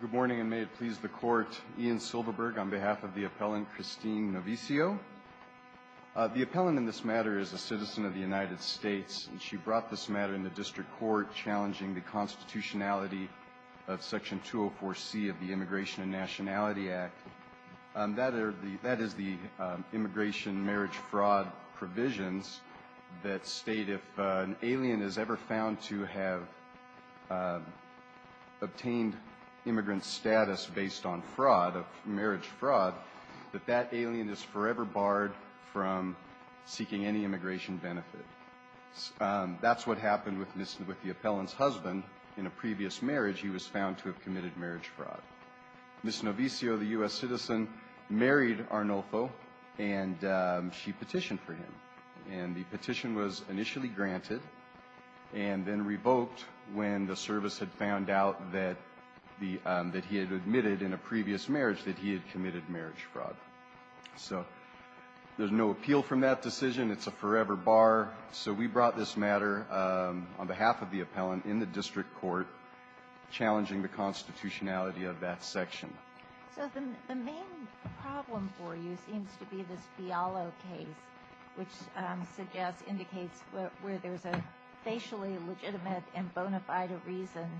Good morning, and may it please the Court, Ian Silverberg on behalf of the appellant Christine Novicio. The appellant in this matter is a citizen of the United States, and she brought this matter into district court challenging the constitutionality of Section 204C of the Immigration and Nationality Act. That is the immigration marriage fraud provisions that state if an alien is ever found to have obtained immigrant status based on fraud, marriage fraud, that that alien is forever barred from seeking any immigration benefit. That's what happened with the appellant's husband in a previous marriage. He was found to have committed marriage fraud. Ms. Novicio, the U.S. citizen, married Arnolfo, and she petitioned for him. And the petition was initially granted and then revoked when the service had found out that he had admitted in a previous marriage that he had committed marriage fraud. So there's no appeal from that decision. It's a forever bar. So we brought this matter on behalf of the appellant in the district court challenging the constitutionality of that section. So the main problem for you seems to be this Fialo case, which suggests, indicates where there's a facially legitimate and bona fide reason,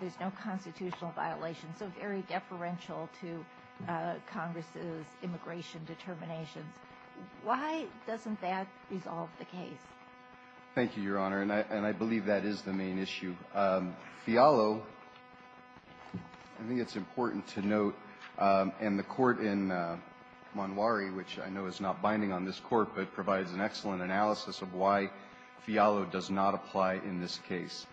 there's no constitutional violation, so very deferential to Congress's immigration determinations. Why doesn't that resolve the case? Thank you, Your Honor. And I believe that is the main issue. Fialo, I think it's important to note, and the court in Monwari, which I know is not binding on this court, but provides an excellent analysis of why Fialo does not apply in this case.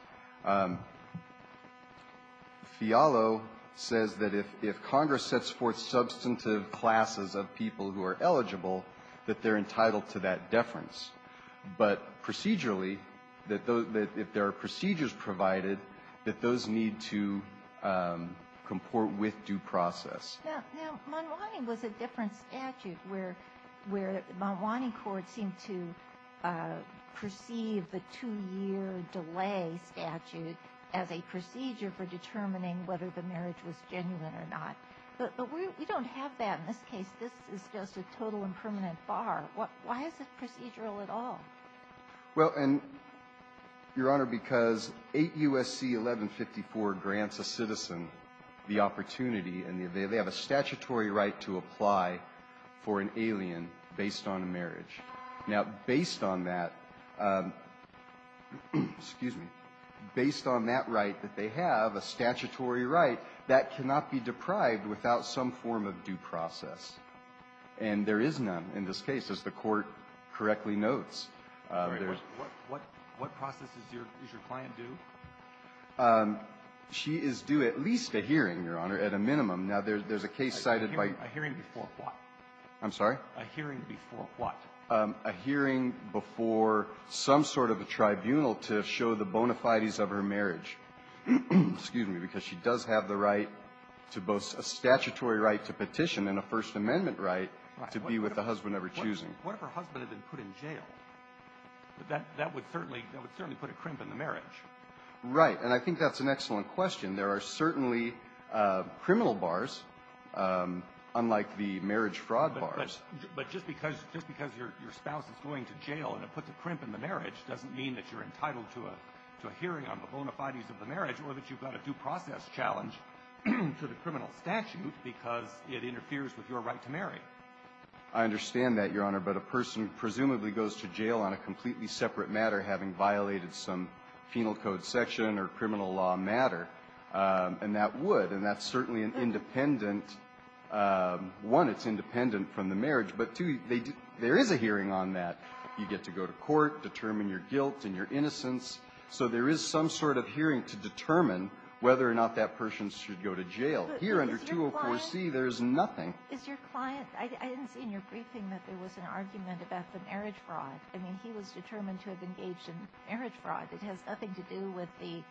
Fialo says that if Congress sets forth substantive classes of people who are eligible, that they're entitled to that deference. But procedurally, if there are procedures provided, that those need to comport with due process. Now, Monwari was a different statute where the Monwari court seemed to perceive the two-year delay statute as a procedure for determining whether the marriage was genuine or not. But we don't have that in this case. This is just a total and permanent bar. Why is it procedural at all? Well, and, Your Honor, because 8 U.S.C. 1154 grants a citizen the opportunity and they have a statutory right to apply for an alien based on a marriage. Now, based on that, excuse me, based on that right that they have, a statutory right, that cannot be deprived without some form of due process. And there is none in this case, as the court correctly notes. What process is your client due? She is due at least a hearing, Your Honor, at a minimum. Now, there's a case cited by you. A hearing before what? I'm sorry? A hearing before what? A hearing before some sort of a tribunal to show the bona fides of her marriage, excuse me, because she does have the right to both a statutory right to petition and a First Amendment right to be with the husband of her choosing. What if her husband had been put in jail? That would certainly put a crimp in the marriage. Right. And I think that's an excellent question. There are certainly criminal bars, unlike the marriage fraud bars. But just because your spouse is going to jail and it puts a crimp in the marriage doesn't mean that you're entitled to a hearing on the bona fides of the marriage or that you've got a due process challenge to the criminal statute because it interferes with your right to marry. I understand that, Your Honor, but a person presumably goes to jail on a completely separate matter having violated some penal code section or criminal law matter, and that would. And that's certainly an independent one. It's independent from the marriage. But, two, there is a hearing on that. You get to go to court, determine your guilt and your innocence. So there is some sort of hearing to determine whether or not that person should go to jail. Here under 204C, there is nothing. Is your client – I didn't see in your briefing that there was an argument about the marriage fraud. I mean, he was determined to have engaged in marriage fraud. It has nothing to do with the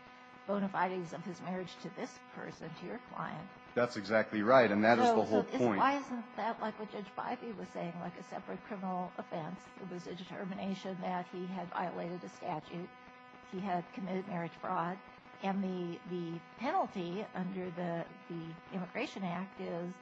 bona fides of his marriage to this person, to your client. That's exactly right, and that is the whole point. So why isn't that like what Judge Bivey was saying, like a separate criminal offense? It was a determination that he had violated the statute. He had committed marriage fraud. And the penalty under the Immigration Act is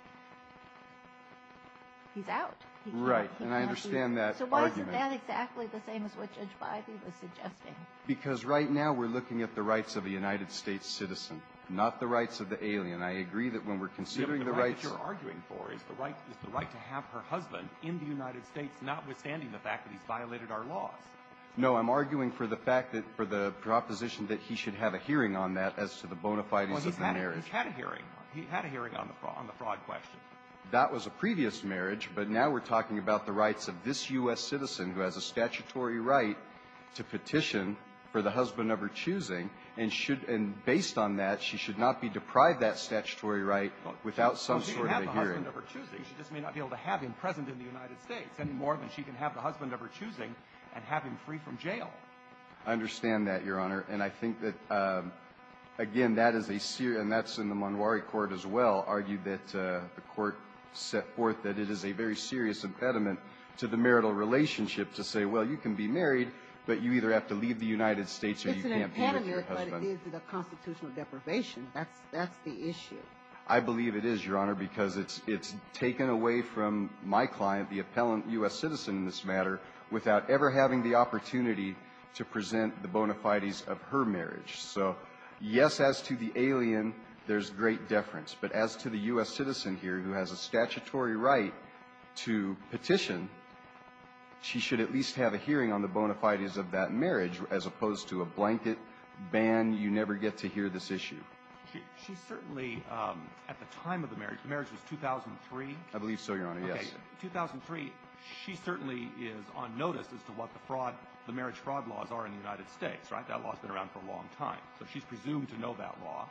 he's out. Right. And I understand that argument. So why isn't that exactly the same as what Judge Bivey was suggesting? Because right now we're looking at the rights of a United States citizen, not the rights of the alien. I agree that when we're considering the rights – The right that you're arguing for is the right to have her husband in the United States, notwithstanding the fact that he's violated our laws. No. I'm arguing for the fact that – for the proposition that he should have a hearing on that as to the bona fides of the marriage. Well, he's had a hearing. He had a hearing on the fraud question. That was a previous marriage, but now we're talking about the rights of this U.S. citizen who has a statutory right to petition for the husband of her choosing, and should – and based on that, she should not be deprived that statutory right without some sort of a hearing. Well, she can have the husband of her choosing. She just may not be able to have him present in the United States any more than she can have the husband of her choosing and have him free from jail. I understand that, Your Honor. And I think that, again, that is a – and that's in the Montgomery Court as well argued that the court set forth that it is a very serious impediment to the marital relationship to say, well, you can be married, but you either have to leave the United States or you can't be with your husband. It's an impediment, but is it a constitutional deprivation? That's the issue. I believe it is, Your Honor, because it's taken away from my client, the appellant U.S. citizen, in this matter, without ever having the opportunity to present the bona fides of her marriage. So, yes, as to the alien, there's great deference. But as to the U.S. citizen here who has a statutory right to petition, she should at least have a hearing on the bona fides of that marriage as opposed to a blanket ban, you never get to hear this issue. She certainly, at the time of the marriage, the marriage was 2003. I believe so, Your Honor. Yes. 2003, she certainly is on notice as to what the fraud, the marriage fraud laws are in the United States, right? That law's been around for a long time. So she's presumed to know that law.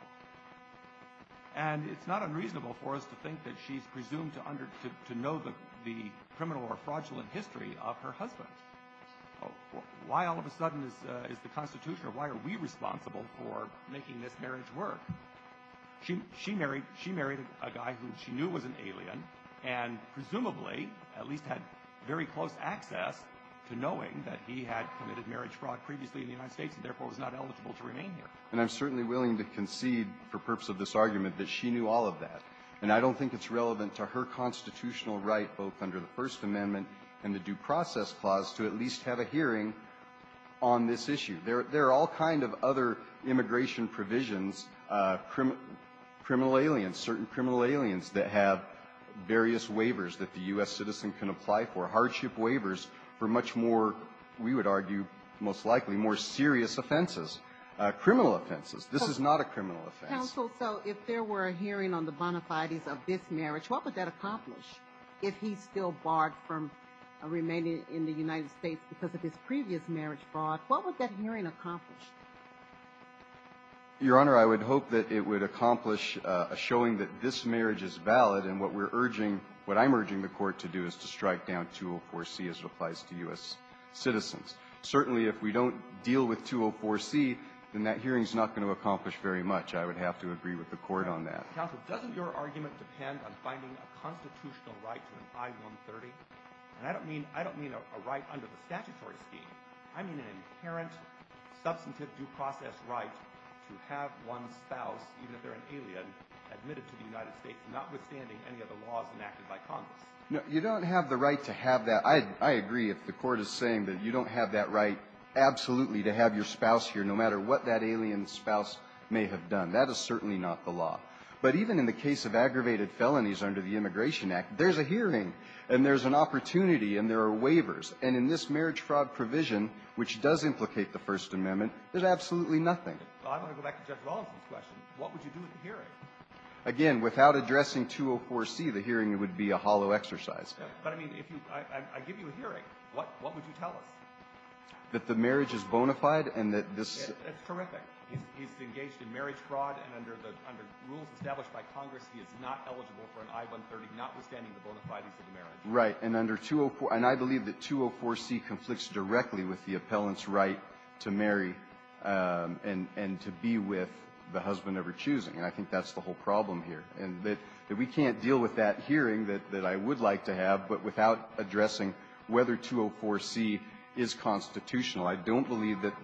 And it's not unreasonable for us to think that she's presumed to know the criminal or fraudulent history of her husband. Why all of a sudden is the Constitution, or why are we responsible for making this marriage work? She married a guy who she knew was an alien and presumably at least had very close access to knowing that he had committed marriage fraud previously in the United States and therefore was not eligible to remain here. And I'm certainly willing to concede for purpose of this argument that she knew all of that. And I don't think it's relevant to her constitutional right both under the First Amendment and the Due Process Clause to at least have a hearing on this issue. There are all kind of other immigration provisions, criminal aliens, certain criminal aliens that have various waivers that the U.S. citizen can apply for, hardship waivers for much more, we would argue most likely, more serious offenses, criminal offenses. This is not a criminal offense. Counsel, so if there were a hearing on the bona fides of this marriage, what would that accomplish if he still barred from remaining in the United States because of his previous marriage fraud, what would that hearing accomplish? Your Honor, I would hope that it would accomplish a showing that this marriage is valid and what we're urging, what I'm urging the Court to do is to strike down 204C as it applies to U.S. citizens. Certainly if we don't deal with 204C, then that hearing is not going to accomplish very much. I would have to agree with the Court on that. Counsel, doesn't your argument depend on finding a constitutional right to an I-130? And I don't mean a right under the statutory scheme. I mean an inherent substantive due process right to have one's spouse, even if they're an alien, admitted to the United States notwithstanding any of the laws enacted by Congress. You don't have the right to have that. I agree if the Court is saying that you don't have that right absolutely to have your spouse here no matter what that alien spouse may have done. That is certainly not the law. But even in the case of aggravated felonies under the Immigration Act, there's a there's an opportunity and there are waivers. And in this marriage fraud provision, which does implicate the First Amendment, there's absolutely nothing. Well, I want to go back to Judge Rawlinson's question. What would you do with the hearing? Again, without addressing 204C, the hearing would be a hollow exercise. But, I mean, if you – I give you a hearing, what would you tell us? That the marriage is bona fide and that this – It's terrific. He's engaged in marriage fraud, and under the rules established by Congress, he is not eligible for an I-130 notwithstanding the bona fides of the marriage. Right. And under – and I believe that 204C conflicts directly with the appellant's right to marry and to be with the husband of her choosing. And I think that's the whole problem here. And that we can't deal with that hearing that I would like to have, but without addressing whether 204C is constitutional. I don't believe that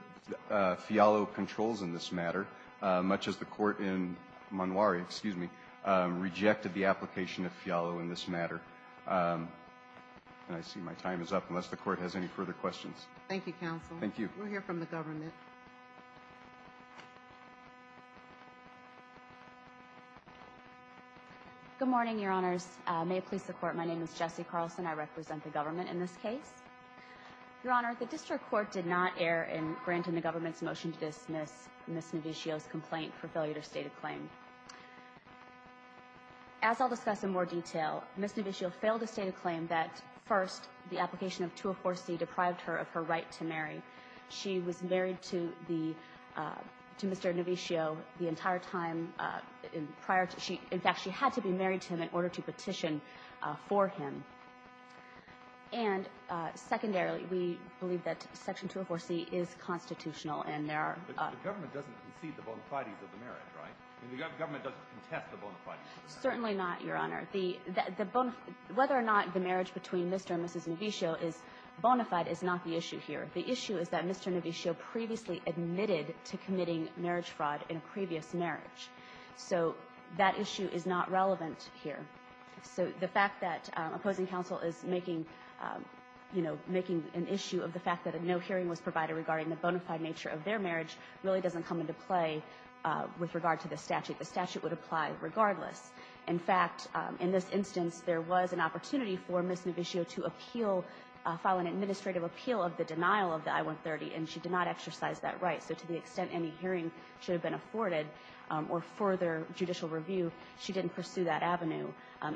Fialo controls in this matter, much as the court in Manuari – excuse me – rejected the application of Fialo in this matter. And I see my time is up, unless the court has any further questions. Thank you, counsel. Thank you. We'll hear from the government. Good morning, Your Honors. May it please the Court, my name is Jessie Carlson. I represent the government in this case. Your Honor, the district court did not err in granting the government's motion to dismiss Ms. Novicio's complaint for failure to state a claim. As I'll discuss in more detail, Ms. Novicio failed to state a claim that, first, the application of 204C deprived her of her right to marry. She was married to the – to Mr. Novicio the entire time prior to – in fact, she had to be married to him in order to petition for him. And, secondarily, we believe that Section 204C is constitutional, and there are – The government doesn't concede the bona fides of the marriage, right? I mean, the government doesn't contest the bona fides of the marriage. Certainly not, Your Honor. The – whether or not the marriage between Mr. and Mrs. Novicio is bona fide is not the issue here. The issue is that Mr. Novicio previously admitted to committing marriage fraud in a previous marriage. So that issue is not relevant here. So the fact that opposing counsel is making – you know, making an issue of the fact that a no hearing was provided regarding the bona fide nature of their marriage really doesn't come into play with regard to the statute. The statute would apply regardless. In fact, in this instance, there was an opportunity for Ms. Novicio to appeal – file an administrative appeal of the denial of the I-130, and she did not exercise that right. So to the extent any hearing should have been afforded or further judicial review, she didn't pursue that avenue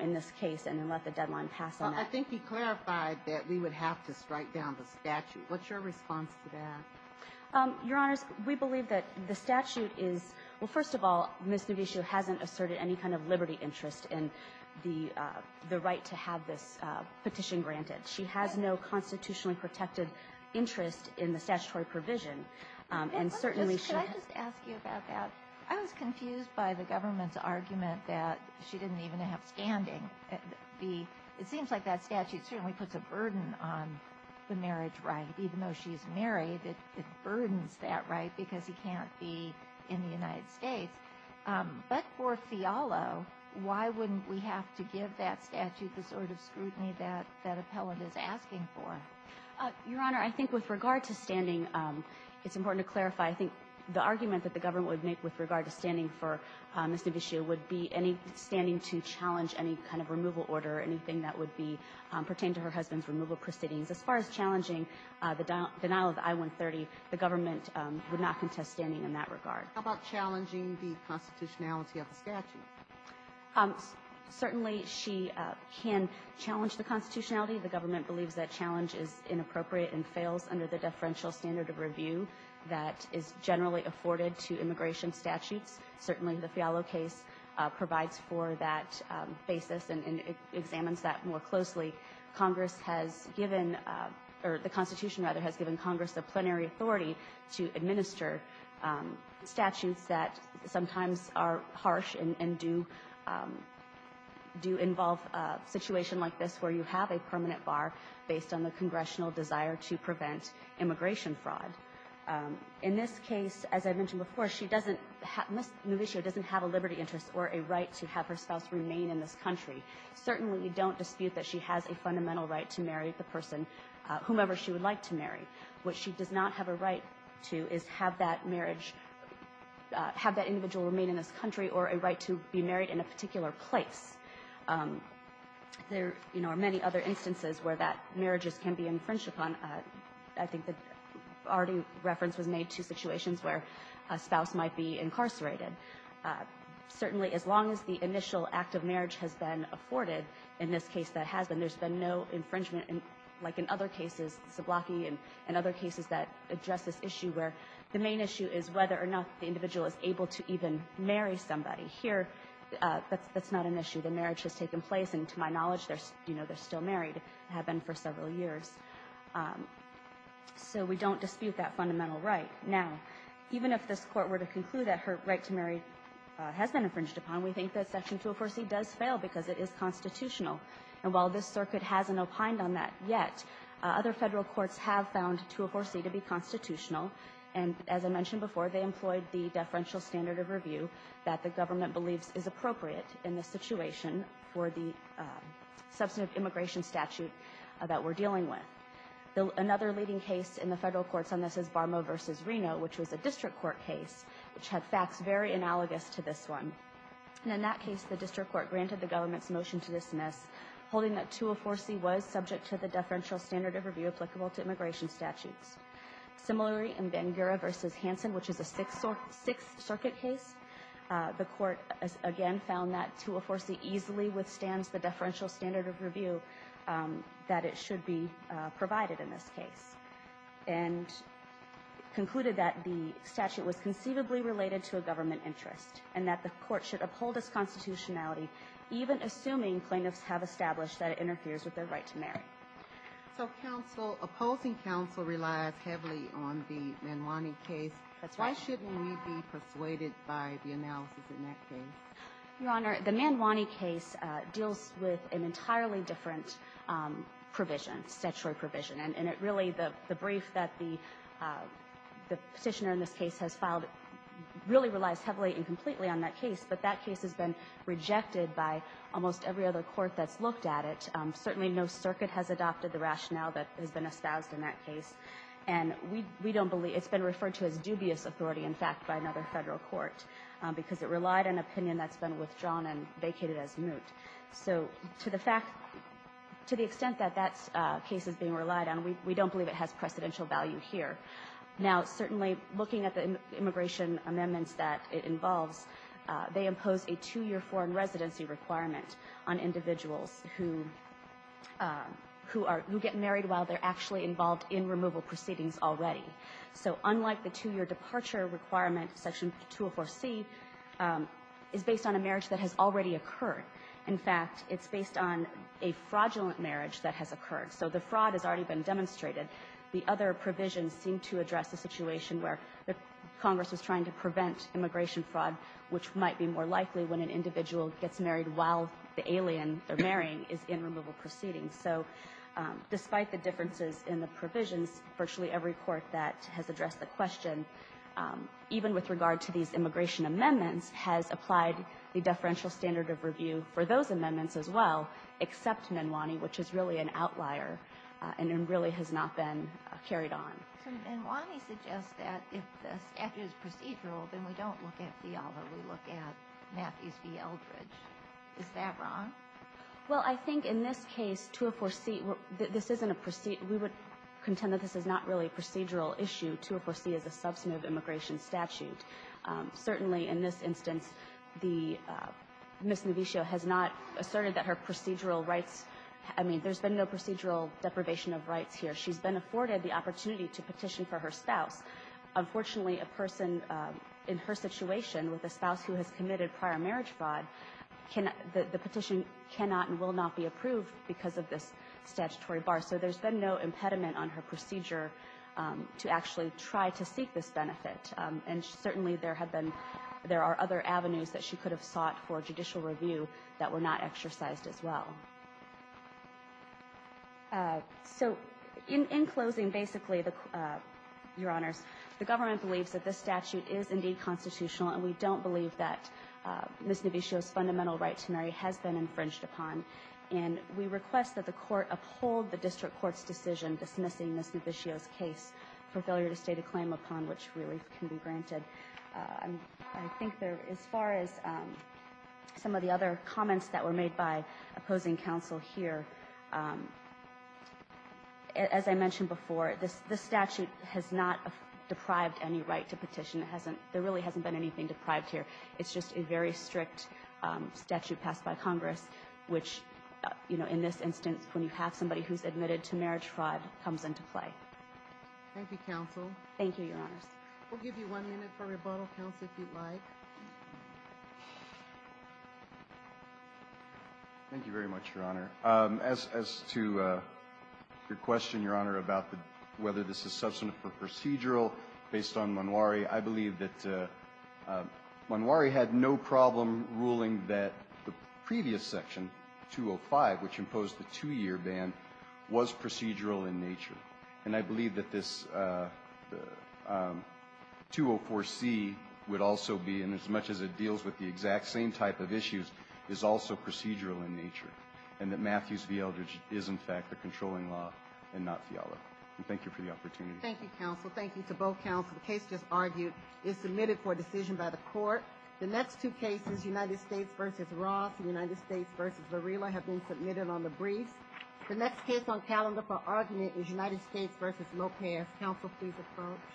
in this case and then let the deadline pass on that. I think you clarified that we would have to strike down the statute. What's your response to that? Your Honors, we believe that the statute is – well, first of all, Ms. Novicio hasn't asserted any kind of liberty interest in the right to have this petition granted. She has no constitutionally protected interest in the statutory provision. And certainly she has – that she didn't even have standing. The – it seems like that statute certainly puts a burden on the marriage right. Even though she's married, it burdens that right because he can't be in the United States. But for Fialo, why wouldn't we have to give that statute the sort of scrutiny that – that appellant is asking for? Your Honor, I think with regard to standing, it's important to clarify. I think the argument that the government would make with regard to standing for Ms. Novicio would be any standing to challenge any kind of removal order or anything that would be – pertain to her husband's removal proceedings. As far as challenging the denial of I-130, the government would not contest standing in that regard. How about challenging the constitutionality of the statute? Certainly she can challenge the constitutionality. The government believes that challenge is inappropriate and fails under the deferential standard of review that is generally afforded to immigration statutes. Certainly the Fialo case provides for that basis and examines that more closely. Congress has given – or the Constitution, rather, has given Congress a plenary authority to administer statutes that sometimes are harsh and do – do involve a situation like this where you have a permanent bar based on the congressional desire to prevent immigration fraud. In this case, as I mentioned before, she doesn't – Ms. Novicio doesn't have a liberty interest or a right to have her spouse remain in this country. Certainly we don't dispute that she has a fundamental right to marry the person whomever she would like to marry. What she does not have a right to is have that marriage – have that individual remain in this country or a right to be married in a particular place. There, you know, are many other instances where that marriages can be infringed upon. I think that already reference was made to situations where a spouse might be incarcerated. Certainly as long as the initial act of marriage has been afforded, in this case that has been, there's been no infringement, like in other cases, Zablocki and other cases that address this issue where the main issue is whether or not the individual is able to even marry somebody. Here, that's not an issue. The marriage has taken place, and to my knowledge, they're still married, have been for several years. So we don't dispute that fundamental right. Now, even if this Court were to conclude that her right to marry has been infringed upon, we think that Section 204C does fail because it is constitutional. And while this Circuit hasn't opined on that yet, other Federal courts have found 204C to be constitutional, and as I mentioned before, they employed the deferential standard of review that the government believes is appropriate in this situation for the substantive immigration statute that we're dealing with. Another leading case in the Federal courts on this is Barmo v. Reno, which was a district court case, which had facts very analogous to this one. And in that case, the district court granted the government's motion to dismiss, holding that 204C was subject to the deferential standard of review applicable to immigration statutes. Similarly, in Bangura v. Hansen, which is a Sixth Circuit case, the Court, again, found that 204C easily withstands the deferential standard of review that it should be provided in this case, and concluded that the statute was conceivably related to a government interest, and that the Court should uphold its constitutionality, even assuming plaintiffs have established that it interferes with their right to marry. So counsel, opposing counsel relies heavily on the Manwani case. That's right. Why shouldn't we be persuaded by the analysis in that case? Your Honor, the Manwani case deals with an entirely different provision, statutory provision. And it really, the brief that the Petitioner in this case has filed really relies heavily and completely on that case, but that case has been rejected by almost every other court that's looked at it. Certainly no circuit has adopted the rationale that has been espoused in that case. And we don't believe, it's been referred to as dubious authority, in fact, by another Federal court, because it relied on opinion that's been withdrawn and vacated as moot. So to the fact, to the extent that that case is being relied on, we don't believe it has precedential value here. Now, certainly looking at the immigration amendments that it involves, they impose a two-year foreign residency requirement on individuals who are, who get married while they're actually involved in removal proceedings already. So unlike the two-year departure requirement, Section 204C, is based on a marriage that has already occurred. In fact, it's based on a fraudulent marriage that has occurred. So the fraud has already been demonstrated. The other provisions seem to address a situation where Congress is trying to prevent immigration fraud, which might be more likely when an individual gets married while the alien they're marrying is in removal proceedings. So despite the differences in the provisions, virtually every court that has addressed the question, even with regard to these immigration amendments, has applied the deferential standard of review for those amendments as well, except Manwani, which is really an outlier and really has not been carried on. And Manwani suggests that if the statute is procedural, then we don't look at Fiala. We look at Matthews v. Eldridge. Is that wrong? Well, I think in this case, 204C, this isn't a procedure. We would contend that this is not really a procedural issue. 204C is a substantive immigration statute. Certainly in this instance, the Ms. Noviccio has not asserted that her procedural rights, I mean, there's been no procedural deprivation of rights here. She's been afforded the opportunity to petition for her spouse. Unfortunately, a person in her situation with a spouse who has committed prior marriage fraud, the petition cannot and will not be approved because of this statutory bar. So there's been no impediment on her procedure to actually try to seek this benefit. And certainly there are other avenues that she could have sought for judicial review that were not exercised as well. So in closing, basically, Your Honors, the government believes that this statute is indeed constitutional, and we don't believe that Ms. Noviccio's fundamental right to marry has been infringed upon. And we request that the court uphold the district court's decision dismissing Ms. Noviccio's case for failure to state a claim upon which relief can be granted. I think there, as far as some of the other comments that were made by opposing counsel here, as I mentioned before, this statute has not deprived any right to petition. There really hasn't been anything deprived here. It's just a very strict statute passed by Congress, which, you know, in this instance, when you have somebody who's admitted to marriage fraud, comes into play. Thank you, counsel. Thank you, Your Honors. We'll give you one minute for rebuttal, counsel, if you'd like. Thank you very much, Your Honor. As to your question, Your Honor, about whether this is substantive or procedural based on Manwari, I believe that Manwari had no problem ruling that the previous section, 205, which imposed the two-year ban, was procedural in nature. And I believe that this 204C would also be, and as much as it deals with the exact same type of issues, is also procedural in nature, and that Matthews v. Eldridge is, in fact, the controlling law and not Fiala. Thank you for the opportunity. Thank you, counsel. Thank you to both counsel. The case just argued is submitted for decision by the Court. The next two cases, United States v. Ross and United States v. Varela, have been the United States v. Lopez. Counsel, please approach.